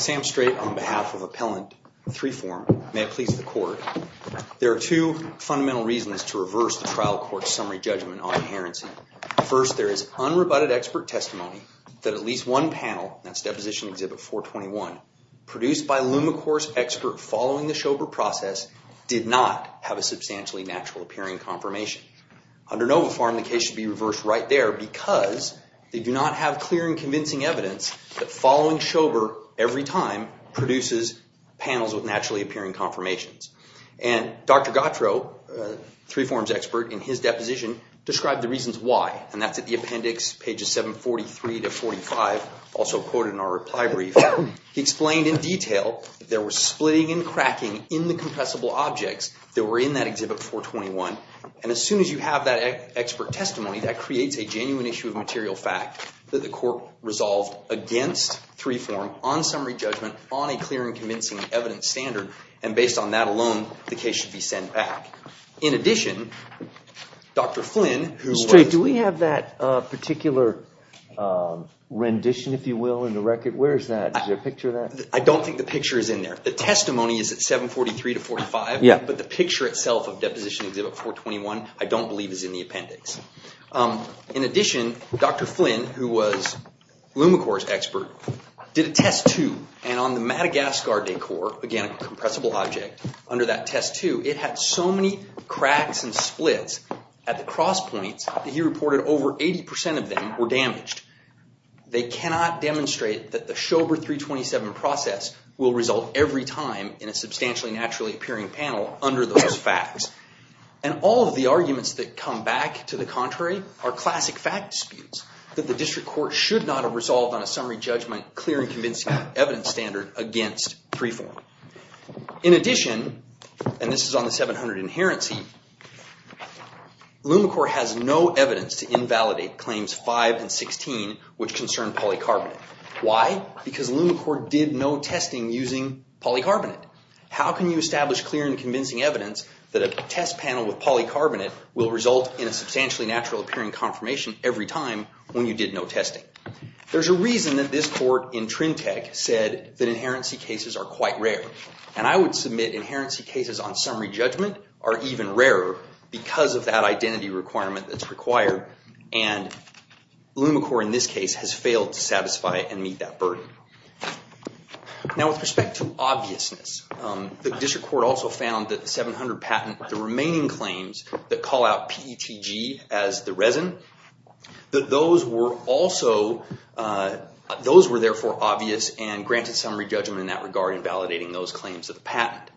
Sam Strait on behalf of Appellant 3form, may it please the Court, there are two fundamental reasons to reverse the trial court's summary judgment on inherency. First, there is unrebutted expert testimony that at least one panel, that's Deposition Exhibit 421, produced by Lumicor's expert following the Schober process, did not have a substantially natural-appearing confirmation. Under Novifarm, the case should be reversed right there because they do not have clear and convincing evidence that following Schober every time produces panels with naturally-appearing confirmations. And Dr. Gautreaux, 3form's expert, in his deposition described the reasons why, and that's at the appendix, pages 743 to 45, also quoted in our reply brief. He explained in detail that there was splitting and cracking in the compressible objects that as soon as you have that expert testimony, that creates a genuine issue of material fact that the Court resolved against 3form on summary judgment on a clear and convincing evidence standard. And based on that alone, the case should be sent back. In addition, Dr. Flynn, who was— Strait, do we have that particular rendition, if you will, in the record? Where is that? Is there a picture of that? I don't think the picture is in there. The testimony is at 743 to 45, but the picture itself of Deposition Exhibit 421, I don't believe, is in the appendix. In addition, Dr. Flynn, who was Lumicore's expert, did a test, too, and on the Madagascar decor, again, a compressible object, under that test, too, it had so many cracks and splits at the cross points that he reported over 80% of them were damaged. They cannot demonstrate that the Schober 327 process will result every time in a substantially naturally-appearing panel under those facts. And all of the arguments that come back to the contrary are classic fact disputes that the district court should not have resolved on a summary judgment, clear and convincing evidence standard against 3-4. In addition, and this is on the 700 Inherency, Lumicore has no evidence to invalidate Claims 5 and 16, which concern polycarbonate. Why? Because Lumicore did no testing using polycarbonate. How can you establish clear and convincing evidence that a test panel with polycarbonate will result in a substantially naturally-appearing confirmation every time when you did no testing? There's a reason that this court in Trintec said that Inherency cases are quite rare. And I would submit Inherency cases on summary judgment are even rarer because of that identity requirement that's required, and Lumicore, in this case, has failed to satisfy and meet that burden. Now, with respect to obviousness, the district court also found that the 700 patent, the remaining claims that call out PETG as the resin, that those were therefore obvious and granted summary judgment in that regard in validating those claims of the patent.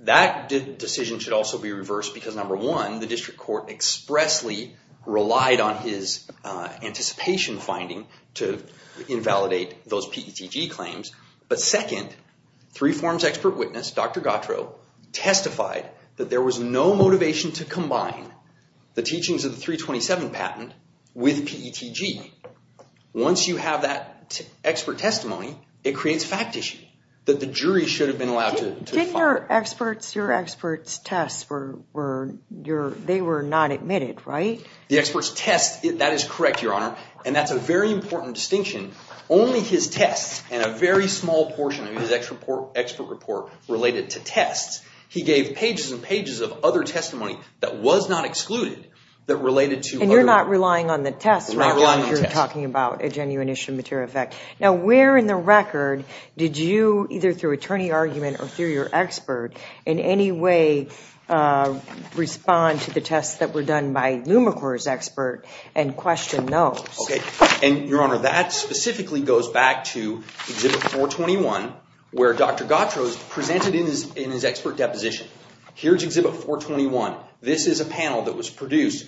That decision should also be reversed because, number one, the district court expressly relied on his anticipation finding to invalidate those PETG claims. But second, Three Forms expert witness, Dr. Gautreaux, testified that there was no motivation to combine the teachings of the 327 patent with PETG. Once you have that expert testimony, it creates a fact issue that the jury should have been allowed to define. Didn't your experts' tests, they were not admitted, right? The experts' tests, that is correct, Your Honor. And that's a very important distinction. Only his tests and a very small portion of his expert report related to tests. He gave pages and pages of other testimony that was not excluded that related to other And you're not relying on the tests rather than you're talking about a genuine issue of material effect. Now, where in the record did you, either through attorney argument or through your expert, in any way respond to the tests that were done by Lumicore's expert and question those? Okay. And, Your Honor, that specifically goes back to Exhibit 421 where Dr. Gautreaux presented in his expert deposition. Here's Exhibit 421. This is a panel that was produced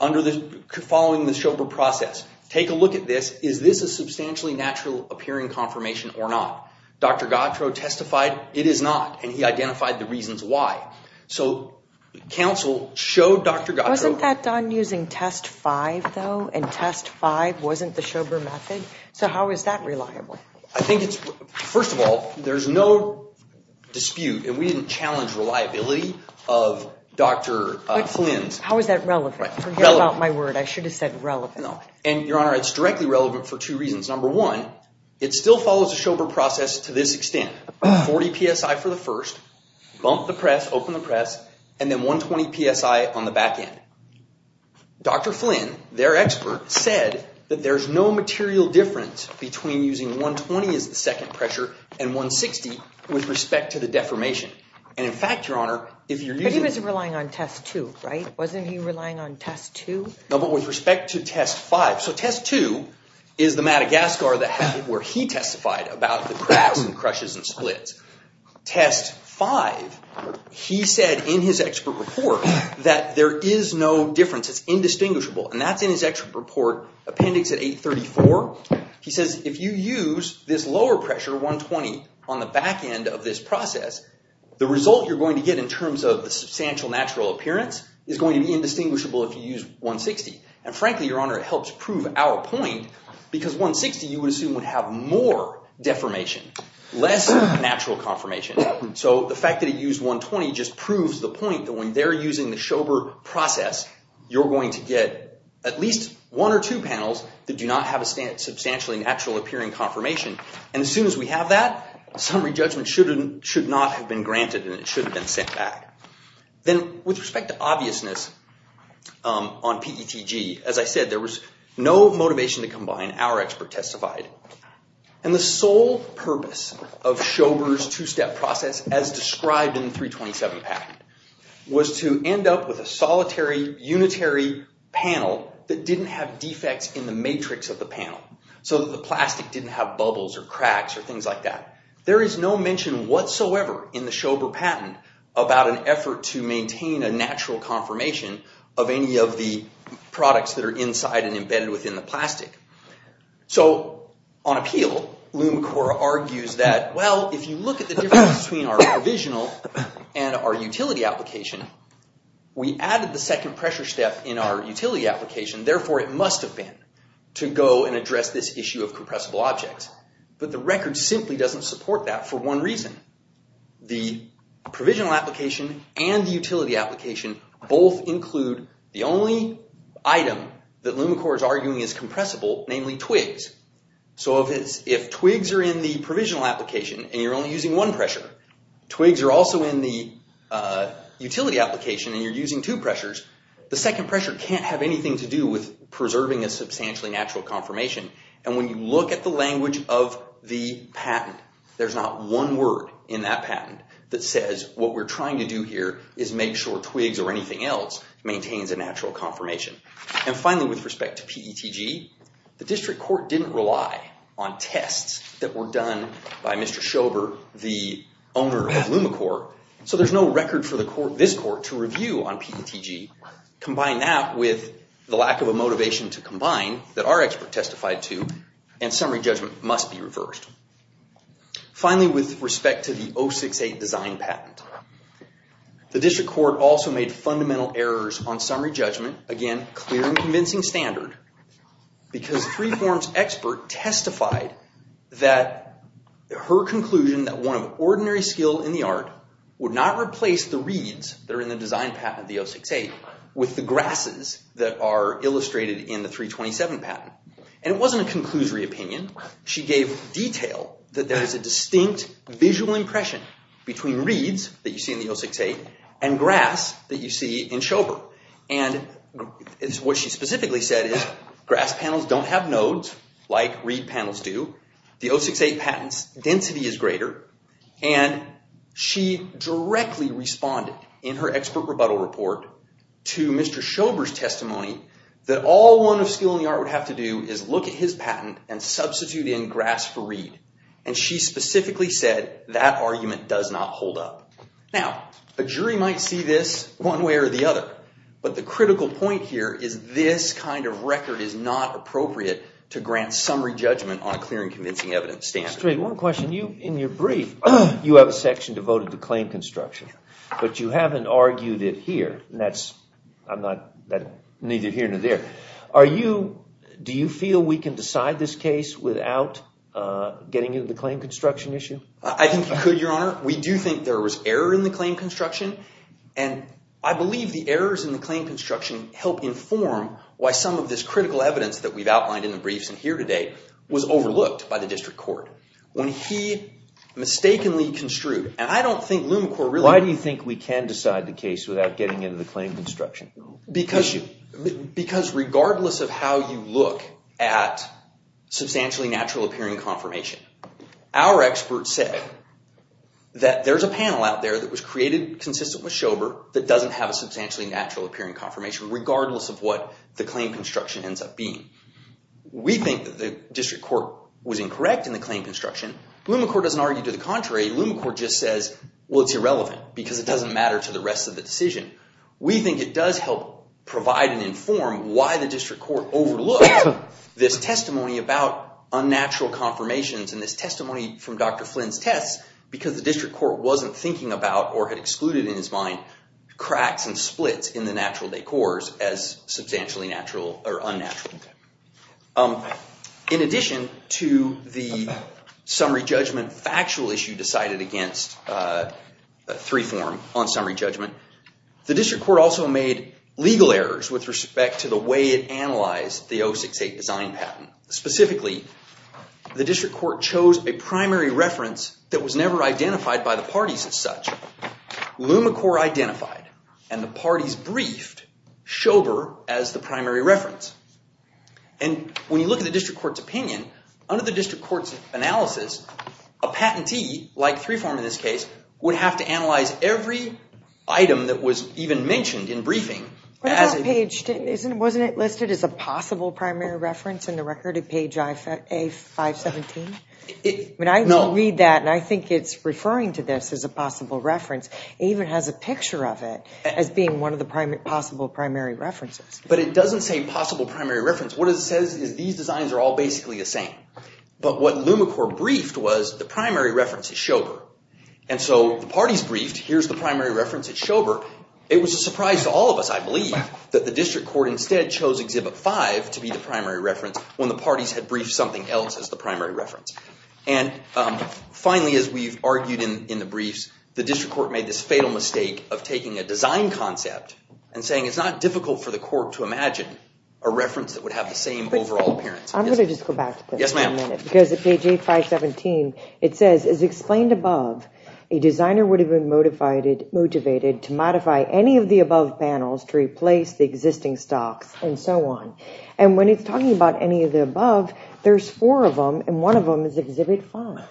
following the Schober process. Take a look at this. Is this a substantially natural appearing confirmation or not? Dr. Gautreaux testified it is not, and he identified the reasons why. So counsel showed Dr. Gautreaux... Wasn't that done using Test 5, though? And Test 5 wasn't the Schober method? So how is that reliable? I think it's... First of all, there's no dispute, and we didn't challenge reliability of Dr. Flynn's... How is that relevant? Forget about my word. I should have said relevant. No. And, Your Honor, it's directly relevant for two reasons. Number one, it still follows the Schober process to this extent, 40 PSI for the first, bump the press, open the press, and then 120 PSI on the back end. Dr. Flynn, their expert, said that there's no material difference between using 120 as the second pressure and 160 with respect to the deformation. And, in fact, Your Honor, if you're using... But he was relying on Test 2, right? Wasn't he relying on Test 2? No, but with respect to Test 5. So Test 2 is the Madagascar where he testified about the cracks and crushes and splits. Test 5, he said in his expert report that there is no difference. It's indistinguishable. And that's in his expert report, Appendix at 834. He says if you use this lower pressure, 120, on the back end of this process, the result you're going to get in terms of the substantial natural appearance is going to be indistinguishable if you use 160. And, frankly, Your Honor, it helps prove our point because 160, you would assume, would have more deformation, less natural conformation. So the fact that he used 120 just proves the point that when they're using the Schober process, you're going to get at least one or two panels that do not have a substantially natural appearing conformation. And as soon as we have that, a summary judgment should not have been granted and it shouldn't have been sent back. Then, with respect to obviousness on PETG, as I said, there was no motivation to combine, our expert testified. And the sole purpose of Schober's two-step process, as described in the 327 patent, was to end up with a solitary, unitary panel that didn't have defects in the matrix of the panel so that the plastic didn't have bubbles or cracks or things like that. There is no mention whatsoever in the Schober patent about an effort to maintain a natural conformation of any of the products that are inside and embedded within the plastic. So on appeal, LumaCore argues that, well, if you look at the difference between our provisional and our utility application, we added the second pressure step in our utility application, therefore it must have been to go and address this issue of compressible objects. But the record simply doesn't support that for one reason. The provisional application and the utility application both include the only item that LumaCore is arguing is compressible, namely twigs. So if twigs are in the provisional application and you're only using one pressure, twigs are also in the utility application and you're using two pressures, the second pressure can't have anything to do with preserving a substantially natural conformation. And when you look at the language of the patent, there's not one word in that patent that says what we're trying to do here is make sure twigs or anything else maintains a natural conformation. And finally, with respect to PETG, the district court didn't rely on tests that were done by Mr. Schober, the owner of LumaCore, so there's no record for this court to review on PETG. Combine that with the lack of a motivation to combine that our expert testified to and summary judgment must be reversed. Finally, with respect to the 068 design patent, the district court also made fundamental errors on summary judgment, again, clear and convincing standard, because Freeform's expert testified that her conclusion that one of ordinary skill in the art would not replace the reads that are in the design patent of the 068 with the grasses that are illustrated in the 327 patent. And it wasn't a conclusory opinion, she gave detail that there's a distinct visual impression between reads that you see in the 068 and grass that you see in Schober. And what she specifically said is grass panels don't have nodes like read panels do. The 068 patent's density is greater, and she directly responded in her expert rebuttal report to Mr. Schober's testimony that all one of skill in the art would have to do is look at his patent and substitute in grass for read. And she specifically said that argument does not hold up. Now, a jury might see this one way or the other, but the critical point here is this kind of record is not appropriate to grant summary judgment on clear and convincing evidence standards. Straight. One question. In your brief, you have a section devoted to claim construction, but you haven't argued it here. And that's neither here nor there. Do you feel we can decide this case without getting into the claim construction issue? I think you could, Your Honor. We do think there was error in the claim construction, and I believe the errors in the claim construction help inform why some of this critical evidence that we've outlined in the briefs and here today was overlooked by the district court. When he mistakenly construed, and I don't think LumaCorp really- Why do you think we can decide the case without getting into the claim construction issue? Because regardless of how you look at substantially natural appearing confirmation, our experts said that there's a panel out there that was created consistent with Schober that doesn't have a substantially natural appearing confirmation regardless of what the claim construction ends up being. We think that the district court was incorrect in the claim construction. LumaCorp doesn't argue to the contrary. LumaCorp just says, well, it's irrelevant because it doesn't matter to the rest of the decision. We think it does help provide and inform why the district court overlooked this testimony about unnatural confirmations and this testimony from Dr. Flynn's tests because the district court wasn't thinking about or had excluded in his mind cracks and splits in the natural decors as substantially natural or unnatural. In addition to the summary judgment factual issue decided against three form on summary judgment, the district court also made legal errors with respect to the way it analyzed the 068 design patent. Specifically, the district court chose a primary reference that was never identified by the parties as such. LumaCorp identified and the parties briefed Schober as the primary reference. And when you look at the district court's opinion, under the district court's analysis, a patentee like three form in this case would have to analyze every item that was even mentioned in briefing. Wasn't it listed as a possible primary reference in the record at page A517? I read that and I think it's referring to this as a possible reference. It even has a picture of it as being one of the possible primary references. But it doesn't say possible primary reference. What it says is these designs are all basically the same. But what LumaCorp briefed was the primary reference is Schober. And so the parties briefed, here's the primary reference at Schober. It was a surprise to all of us, I believe, that the district court instead chose exhibit five to be the primary reference when the parties had briefed something else as the primary reference. And finally, as we've argued in the briefs, the district court made this fatal mistake of taking a design concept and saying it's not difficult for the court to imagine a reference that would have the same overall appearance. I'm going to just go back to this for a minute because at page A517, it says, as explained above, a designer would have been motivated to modify any of the above panels to replace the existing stocks and so on. And when it's talking about any of the above, there's four of them and one of them is exhibit five.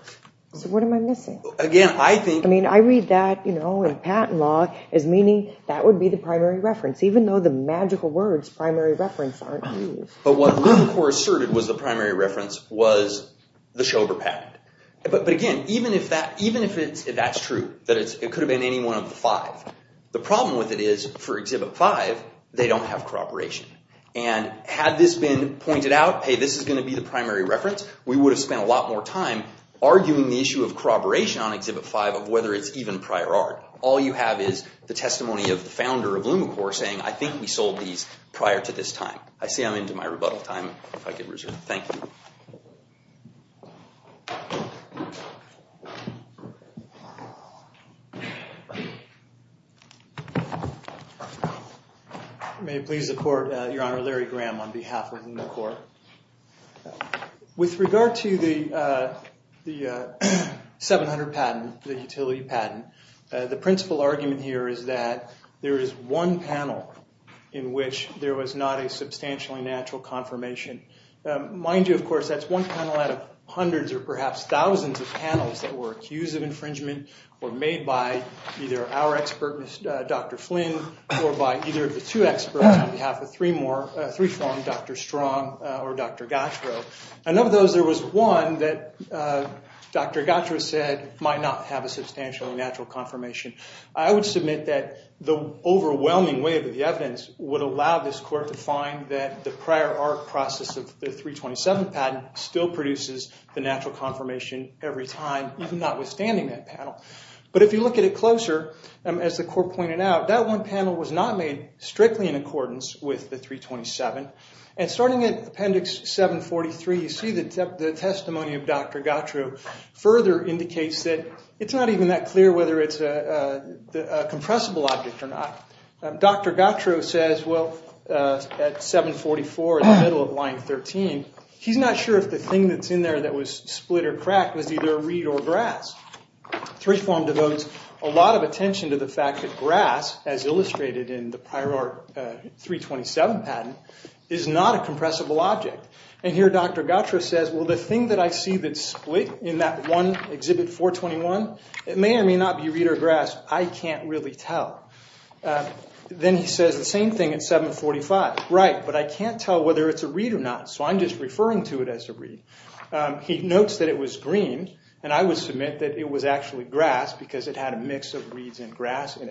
So what am I missing? Again, I think- I mean, I read that in patent law as meaning that would be the primary reference, even though the magical words primary reference aren't used. But what LumaCorp asserted was the primary reference was the Schober patent. But again, even if that's true, that it could have been any one of the five, the problem with it is for exhibit five, they don't have corroboration. And had this been pointed out, hey, this is going to be the primary reference, we would have spent a lot more time arguing the issue of corroboration on exhibit five of whether it's even prior art. All you have is the testimony of the founder of LumaCorp saying, I think we sold these prior to this time. I see I'm into my rebuttal time, if I could reserve it. Thank you. May it please the court, Your Honor, Larry Graham on behalf of LumaCorp. With regard to the 700 patent, the utility patent, the principal argument here is that there is one panel in which there was not a substantially natural confirmation. Mind you, of course, that's one panel out of hundreds or perhaps thousands of panels that were accused of infringement or made by either our expert, Dr. Flynn, or by either of the two experts on behalf of three more, three from Dr. Strong or Dr. Gatraux. And of those, there was one that Dr. Gatraux said might not have a substantially natural confirmation. I would submit that the overwhelming wave of the evidence would allow this court to the prior art process of the 327 patent still produces the natural confirmation every time, even notwithstanding that panel. But if you look at it closer, as the court pointed out, that one panel was not made strictly in accordance with the 327. And starting at appendix 743, you see the testimony of Dr. Gatraux further indicates that it's not even that clear whether it's a compressible object or not. Dr. Gatraux says, well, at 744 in the middle of line 13, he's not sure if the thing that's in there that was split or cracked was either reed or grass. Three form devotes a lot of attention to the fact that grass, as illustrated in the prior art 327 patent, is not a compressible object. And here Dr. Gatraux says, well, the thing that I see that's split in that one exhibit 421, it may or may not be reed or grass. I can't really tell. Then he says the same thing at 745. Right, but I can't tell whether it's a reed or not, so I'm just referring to it as a reed. He notes that it was green, and I would submit that it was actually grass because it had a mix of reeds and grass in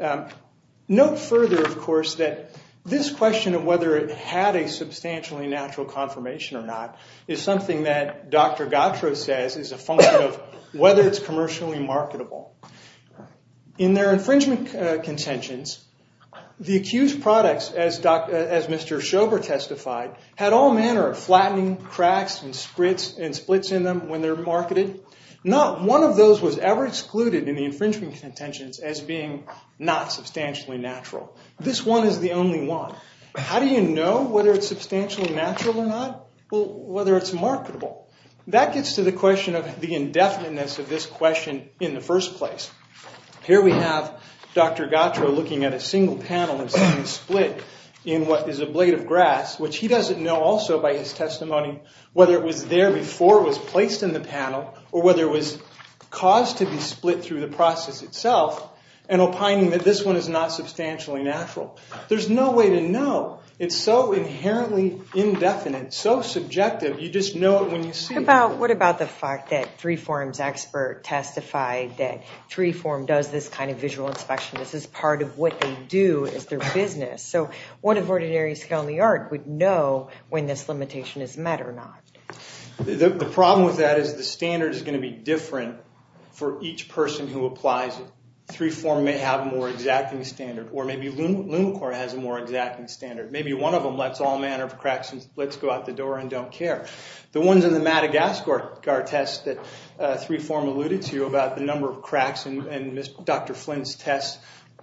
it. Note further, of course, that this question of whether it had a substantially natural confirmation or not is something that Dr. Gatraux says is a function of whether it's commercially marketable. In their infringement contentions, the accused products, as Mr. Schober testified, had all manner of flattening, cracks, and splits in them when they're marketed. Not one of those was ever excluded in the infringement contentions as being not substantially natural. This one is the only one. How do you know whether it's substantially natural or not? Well, whether it's marketable. That gets to the question of the indefiniteness of this question in the first place. Here we have Dr. Gatraux looking at a single panel and seeing a split in what is a blade of grass, which he doesn't know also by his testimony whether it was there before it was placed in the panel or whether it was caused to be split through the process itself and opining that this one is not substantially natural. There's no way to know. It's so inherently indefinite, so subjective, you just know it when you see it. What about the fact that Three Form's expert testified that Three Form does this kind of visual inspection? This is part of what they do as their business. So what if ordinary skill in the art would know when this limitation is met or not? The problem with that is the standard is going to be different for each person who applies it. Three Form may have a more exacting standard, or maybe LumaCore has a more exacting standard. Maybe one of them lets all manner of cracks and splits go out the door and don't care. The ones in the Madagascar test that Three Form alluded to about the number of cracks in Dr. Flynn's test,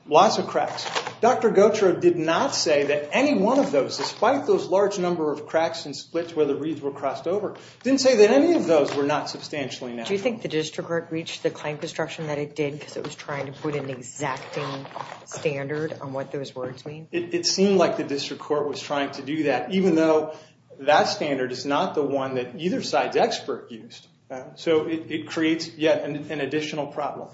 lots of cracks. Dr. Gatraux did not say that any one of those, despite those large number of cracks and splits where the reeds were crossed over, didn't say that any of those were not substantially natural. Do you think the district court reached the claim construction that it did because it was trying to put an exacting standard on what those words mean? It seemed like the district court was trying to do that, even though that standard is not the one that either side's expert used. So it creates yet an additional problem.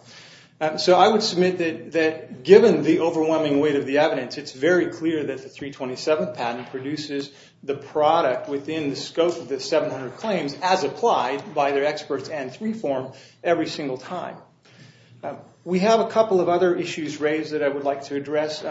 So I would submit that given the overwhelming weight of the evidence, it's very clear that the 327 patent produces the product within the scope of the 700 claims as applied by their experts and Three Form every single time. We have a couple of other issues raised that I would like to address.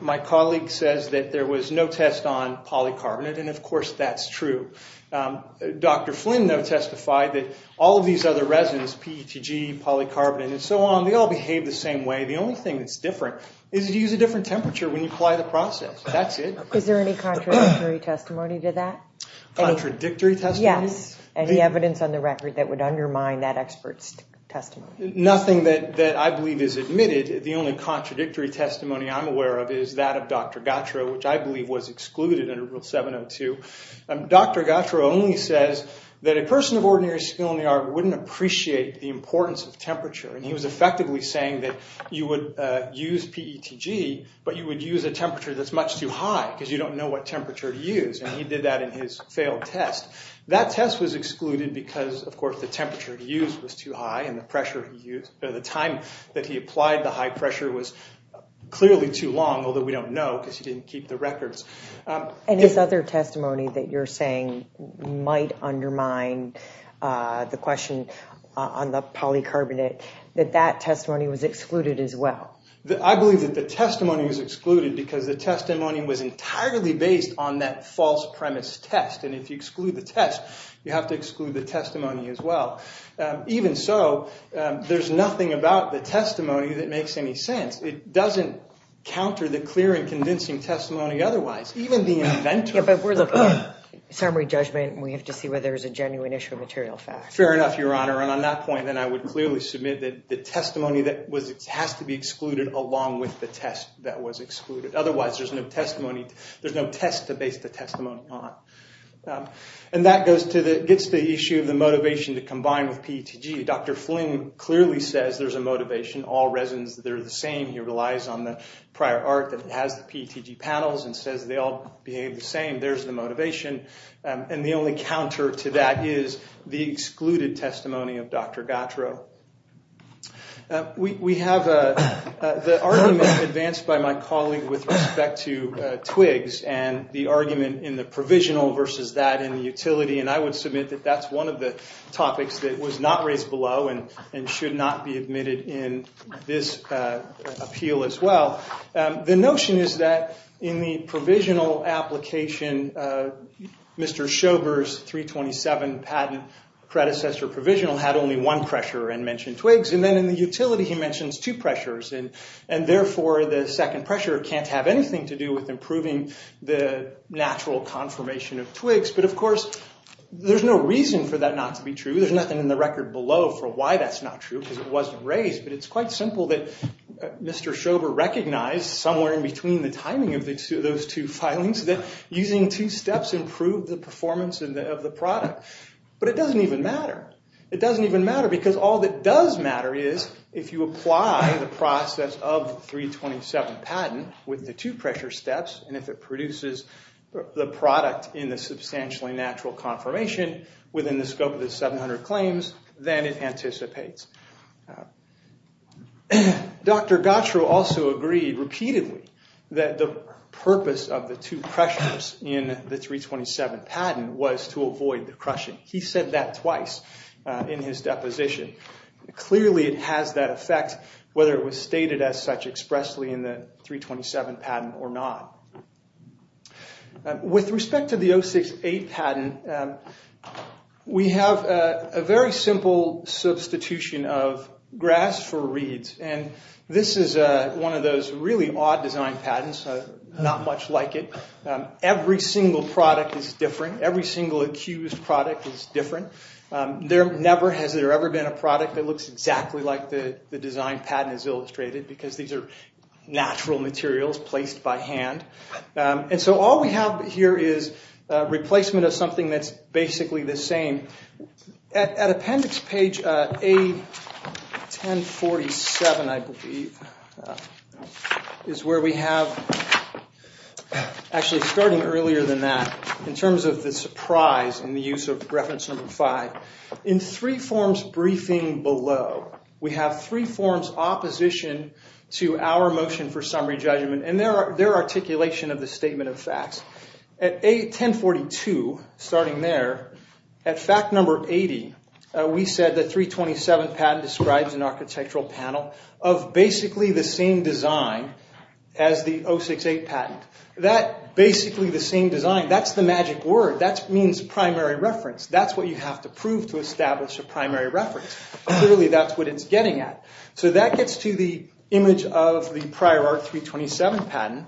My colleague says that there was no test on polycarbonate, and of course that's true. Dr. Flynn, though, testified that all of these other resins, PETG, polycarbonate, and so on, they all behave the same way. The only thing that's different is that you use a different temperature when you apply the process. That's it. Is there any contradictory testimony to that? Contradictory testimony? Yes. Any evidence on the record that would undermine that expert's testimony? Nothing that I believe is admitted. The only contradictory testimony I'm aware of is that of Dr. Gatra, which I believe was excluded under Rule 702. Dr. Gatra only says that a person of ordinary skill in the art wouldn't appreciate the importance of temperature. And he was effectively saying that you would use PETG, but you would use a temperature that's much too high, because you don't know what temperature to use. And he did that in his failed test. That test was excluded because, of course, the temperature he used was too high, and the time that he applied the high pressure was clearly too long, although we don't know because he didn't keep the records. And his other testimony that you're saying might undermine the question on the polycarbonate, that that testimony was excluded as well? I believe that the testimony was excluded because the testimony was entirely based on that false premise test. And if you exclude the test, you have to exclude the testimony as well. Even so, there's nothing about the testimony that makes any sense. It doesn't counter the clear and convincing testimony otherwise. Even the inventor. Yeah, but we're looking at summary judgment, and we have to see whether there's a genuine issue of material fact. Fair enough, Your Honor. And on that point, then I would clearly submit that the testimony that has to be excluded along with the test that was excluded. Otherwise, there's no test to base the testimony on. And that gets to the issue of the motivation to combine with PETG. Dr. Fling clearly says there's a motivation. All residents, they're the same. He relies on the prior art that has the PETG panels and says they all behave the same. There's the motivation. And the only counter to that is the excluded testimony of Dr. Gattro. We have the argument advanced by my colleague with respect to twigs and the argument in the provisional versus that in the utility. And I would submit that that's one of the topics that was not raised below and should not be admitted in this appeal as well. The notion is that in the provisional application, Mr. Schober's 327 patent predecessor provisional had only one pressure and mentioned twigs. And then in the utility, he mentions two pressures. And therefore, the second pressure can't have anything to do with improving the natural confirmation of twigs. But of course, there's no reason for that not to be true. There's nothing in the record below for why that's not true because it wasn't raised. But it's quite simple that Mr. Schober recognized somewhere in between the timing of those two filings that using two steps improved the performance of the product. But it doesn't even matter. It doesn't even matter because all that does matter is if you apply the process of 327 patent with the two pressure steps, and if it produces the product in the substantially natural confirmation within the scope of the 700 claims, then it anticipates. Dr. Gattro also agreed repeatedly that the purpose of the two pressures in the 327 patent was to avoid the crushing. He said that twice in his deposition. Clearly, it has that effect whether it was stated as such expressly in the 327 patent or not. With respect to the 068 patent, we have a very simple substitution of grass for reeds. And this is one of those really odd design patents, not much like it. Every single product is different. Every single accused product is different. There never has ever been a product that looks exactly like the design patent is illustrated because these are natural materials placed by hand. And so all we have here is a replacement of something that's basically the same. At appendix page A1047, I believe, is where we have, actually starting earlier than that, in terms of the surprise and the use of reference number five, in three forms briefing below, we have three forms opposition to our motion for summary judgment and their articulation of the statement of facts. At A1042, starting there, at fact number 80, we said the 327 patent describes an architectural panel of basically the same design as the 068 patent. That basically the same design, that's the magic word. That means primary reference. That's what you have to prove to establish a primary reference. Clearly, that's what it's getting at. So that gets to the image of the prior R327 patent.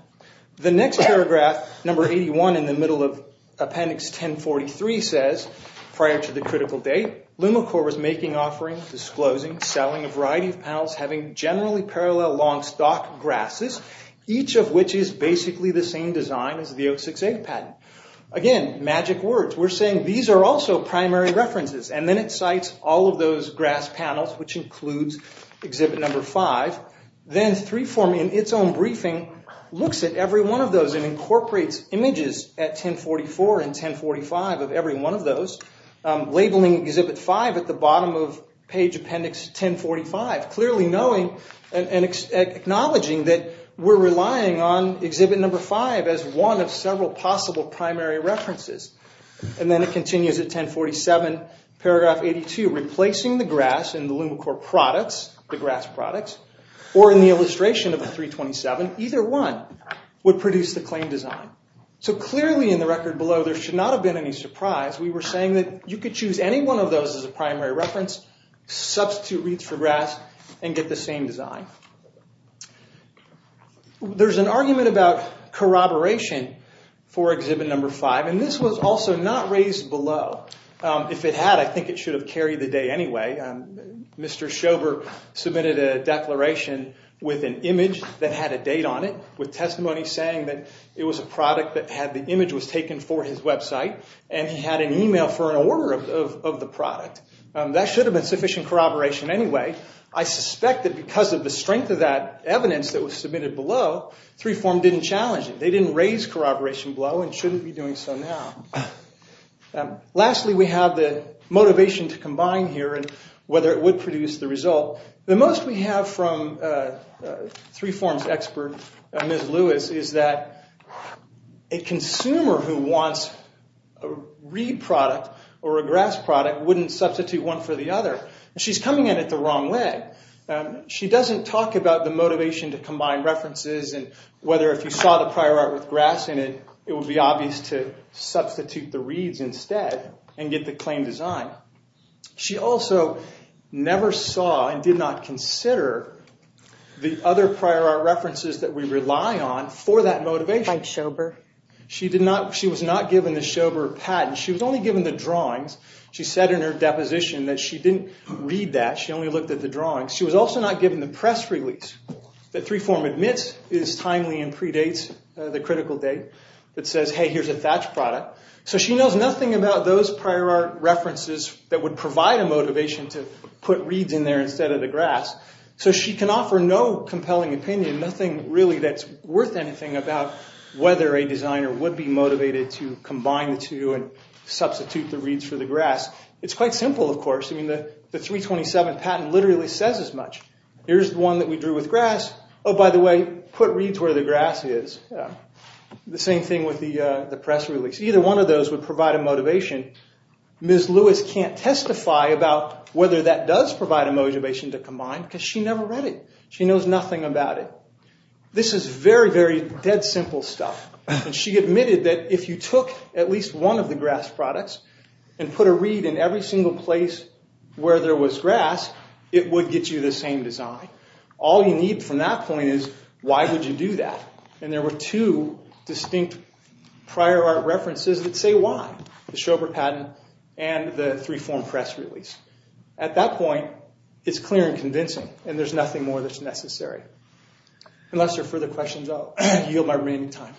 The next paragraph, number 81 in the middle of appendix 1043 says, prior to the critical date, Lumocore was making offerings, disclosing, selling a variety of panels having generally parallel long stock grasses, each of which is basically the same design as the 068 patent. Again, magic words. We're saying these are also primary references. And then it cites all of those grass panels, which includes exhibit number five. Then three form, in its own briefing, looks at every one of those and incorporates images at 1044 and 1045 of every one of those, labeling exhibit five at the bottom of page appendix 1045, clearly knowing and acknowledging that we're relying on exhibit number five as one of several possible primary references. And then it continues at 1047, paragraph 82, replacing the grass in the Lumocore products, the grass products, or in the illustration of the 327, either one would produce the claim design. So clearly in the record below, there should not have been any surprise. We were saying that you could choose any one of those as a primary reference, substitute wreaths for grass, and get the same design. There's an argument about corroboration for exhibit number five, and this was also not raised below. If it had, I think it should have carried the day anyway. Mr. Schober submitted a declaration with an image that had a date on it, with testimony saying that it was a product that had the image was taken for his website, and he had an email for an order of the product. That should have been sufficient corroboration anyway. I suspect that because of the strength of that evidence that was submitted below, 3FORM didn't challenge it. They didn't raise corroboration below and shouldn't be doing so now. Lastly, we have the motivation to combine here and whether it would produce the result. The most we have from 3FORM's expert, Ms. Lewis, is that a consumer who wants a reed product or a grass product wouldn't substitute one for the other. She's coming at it the wrong way. She doesn't talk about the motivation to combine references and whether if you saw the prior art with grass in it, it would be obvious to substitute the reeds instead and get the claimed design. She also never saw and did not consider the other prior art references that we rely on for that motivation. She was not given the Schober patent. She was only given the drawings. She said in her deposition that she didn't read that. She only looked at the drawings. She was also not given the press release that 3FORM admits is timely and predates the critical date that says, hey, here's a thatch product. She knows nothing about those prior art references that would provide a motivation to put reeds in there instead of the grass. She can offer no compelling opinion, nothing really that's worth anything about whether a designer would be motivated to combine the two and substitute the reeds for the grass. It's quite simple, of course. The 327 patent literally says as much. Here's the one that we drew with grass. By the way, put reeds where the grass is. The same thing with the press release. Either one of those would provide a motivation. Ms. Lewis can't testify about whether that does provide a motivation to combine because she never read it. She knows nothing about it. This is very, very dead simple stuff. She admitted that if you took at least one of the grass products and put a reed in every single place where there was grass, it would get you the same design. All you need from that point is why would you do that? There were two distinct prior art references that say why, the Schober patent and the three-form press release. At that point, it's clear and convincing, and there's nothing more that's necessary. Unless there are further questions, I'll yield my remaining time.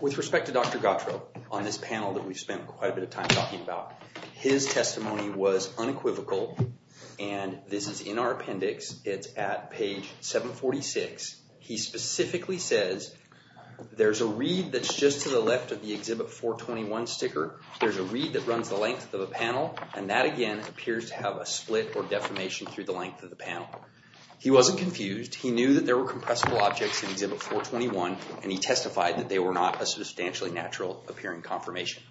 With respect to Dr. Gautreaux, on this panel that we've spent quite a bit of time talking about, his testimony was unequivocal. This is in our appendix. It's at page 746. He specifically says there's a reed that's just to the left of the Exhibit 421 sticker. There's a reed that runs the length of a panel, and that, again, appears to have a split or deformation through the length of the panel. He wasn't confused. He knew that there were compressible objects in Exhibit 421, and he testified that they were not a substantially natural appearing confirmation.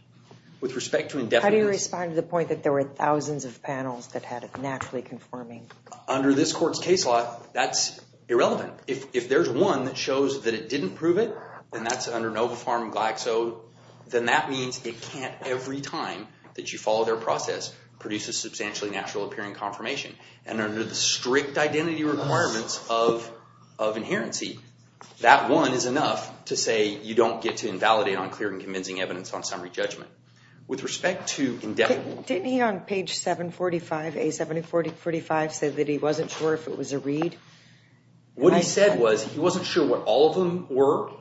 With respect to indefinite... How do you respond to the point that there were thousands of panels that had it naturally conforming? Under this court's case law, that's irrelevant. If there's one that shows that it didn't prove it, and that's under NOVA Farm Glaxo, then that means it can't, every time that you follow their process, produce a substantially natural appearing confirmation. Under the strict identity requirements of inherency, that one is enough to say you don't get to invalidate on clear and convincing evidence on summary judgment. With respect to indefinite... Didn't he, on page 745, A745, say that he wasn't sure if it was a reed? What he said was, he wasn't sure what all of them were,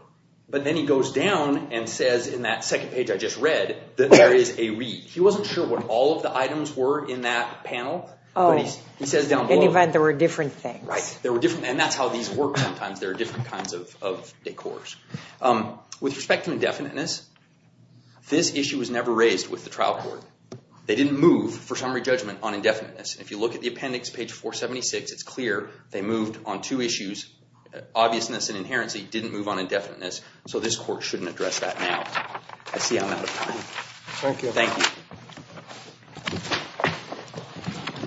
but then he goes down and says in that second page I just read, that there is a reed. He wasn't sure what all of the items were in that panel, but he says down below... Oh, he said there were different things. Right. There were different... And that's how these work sometimes. There are different kinds of decors. With respect to indefiniteness, this issue was never raised with the trial court. They didn't move for summary judgment on indefiniteness. If you look at the appendix, page 476, it's clear they moved on two issues, obviousness and inherency. Didn't move on indefiniteness, so this court shouldn't address that now. I see I'm out of time. Thank you. Thank you.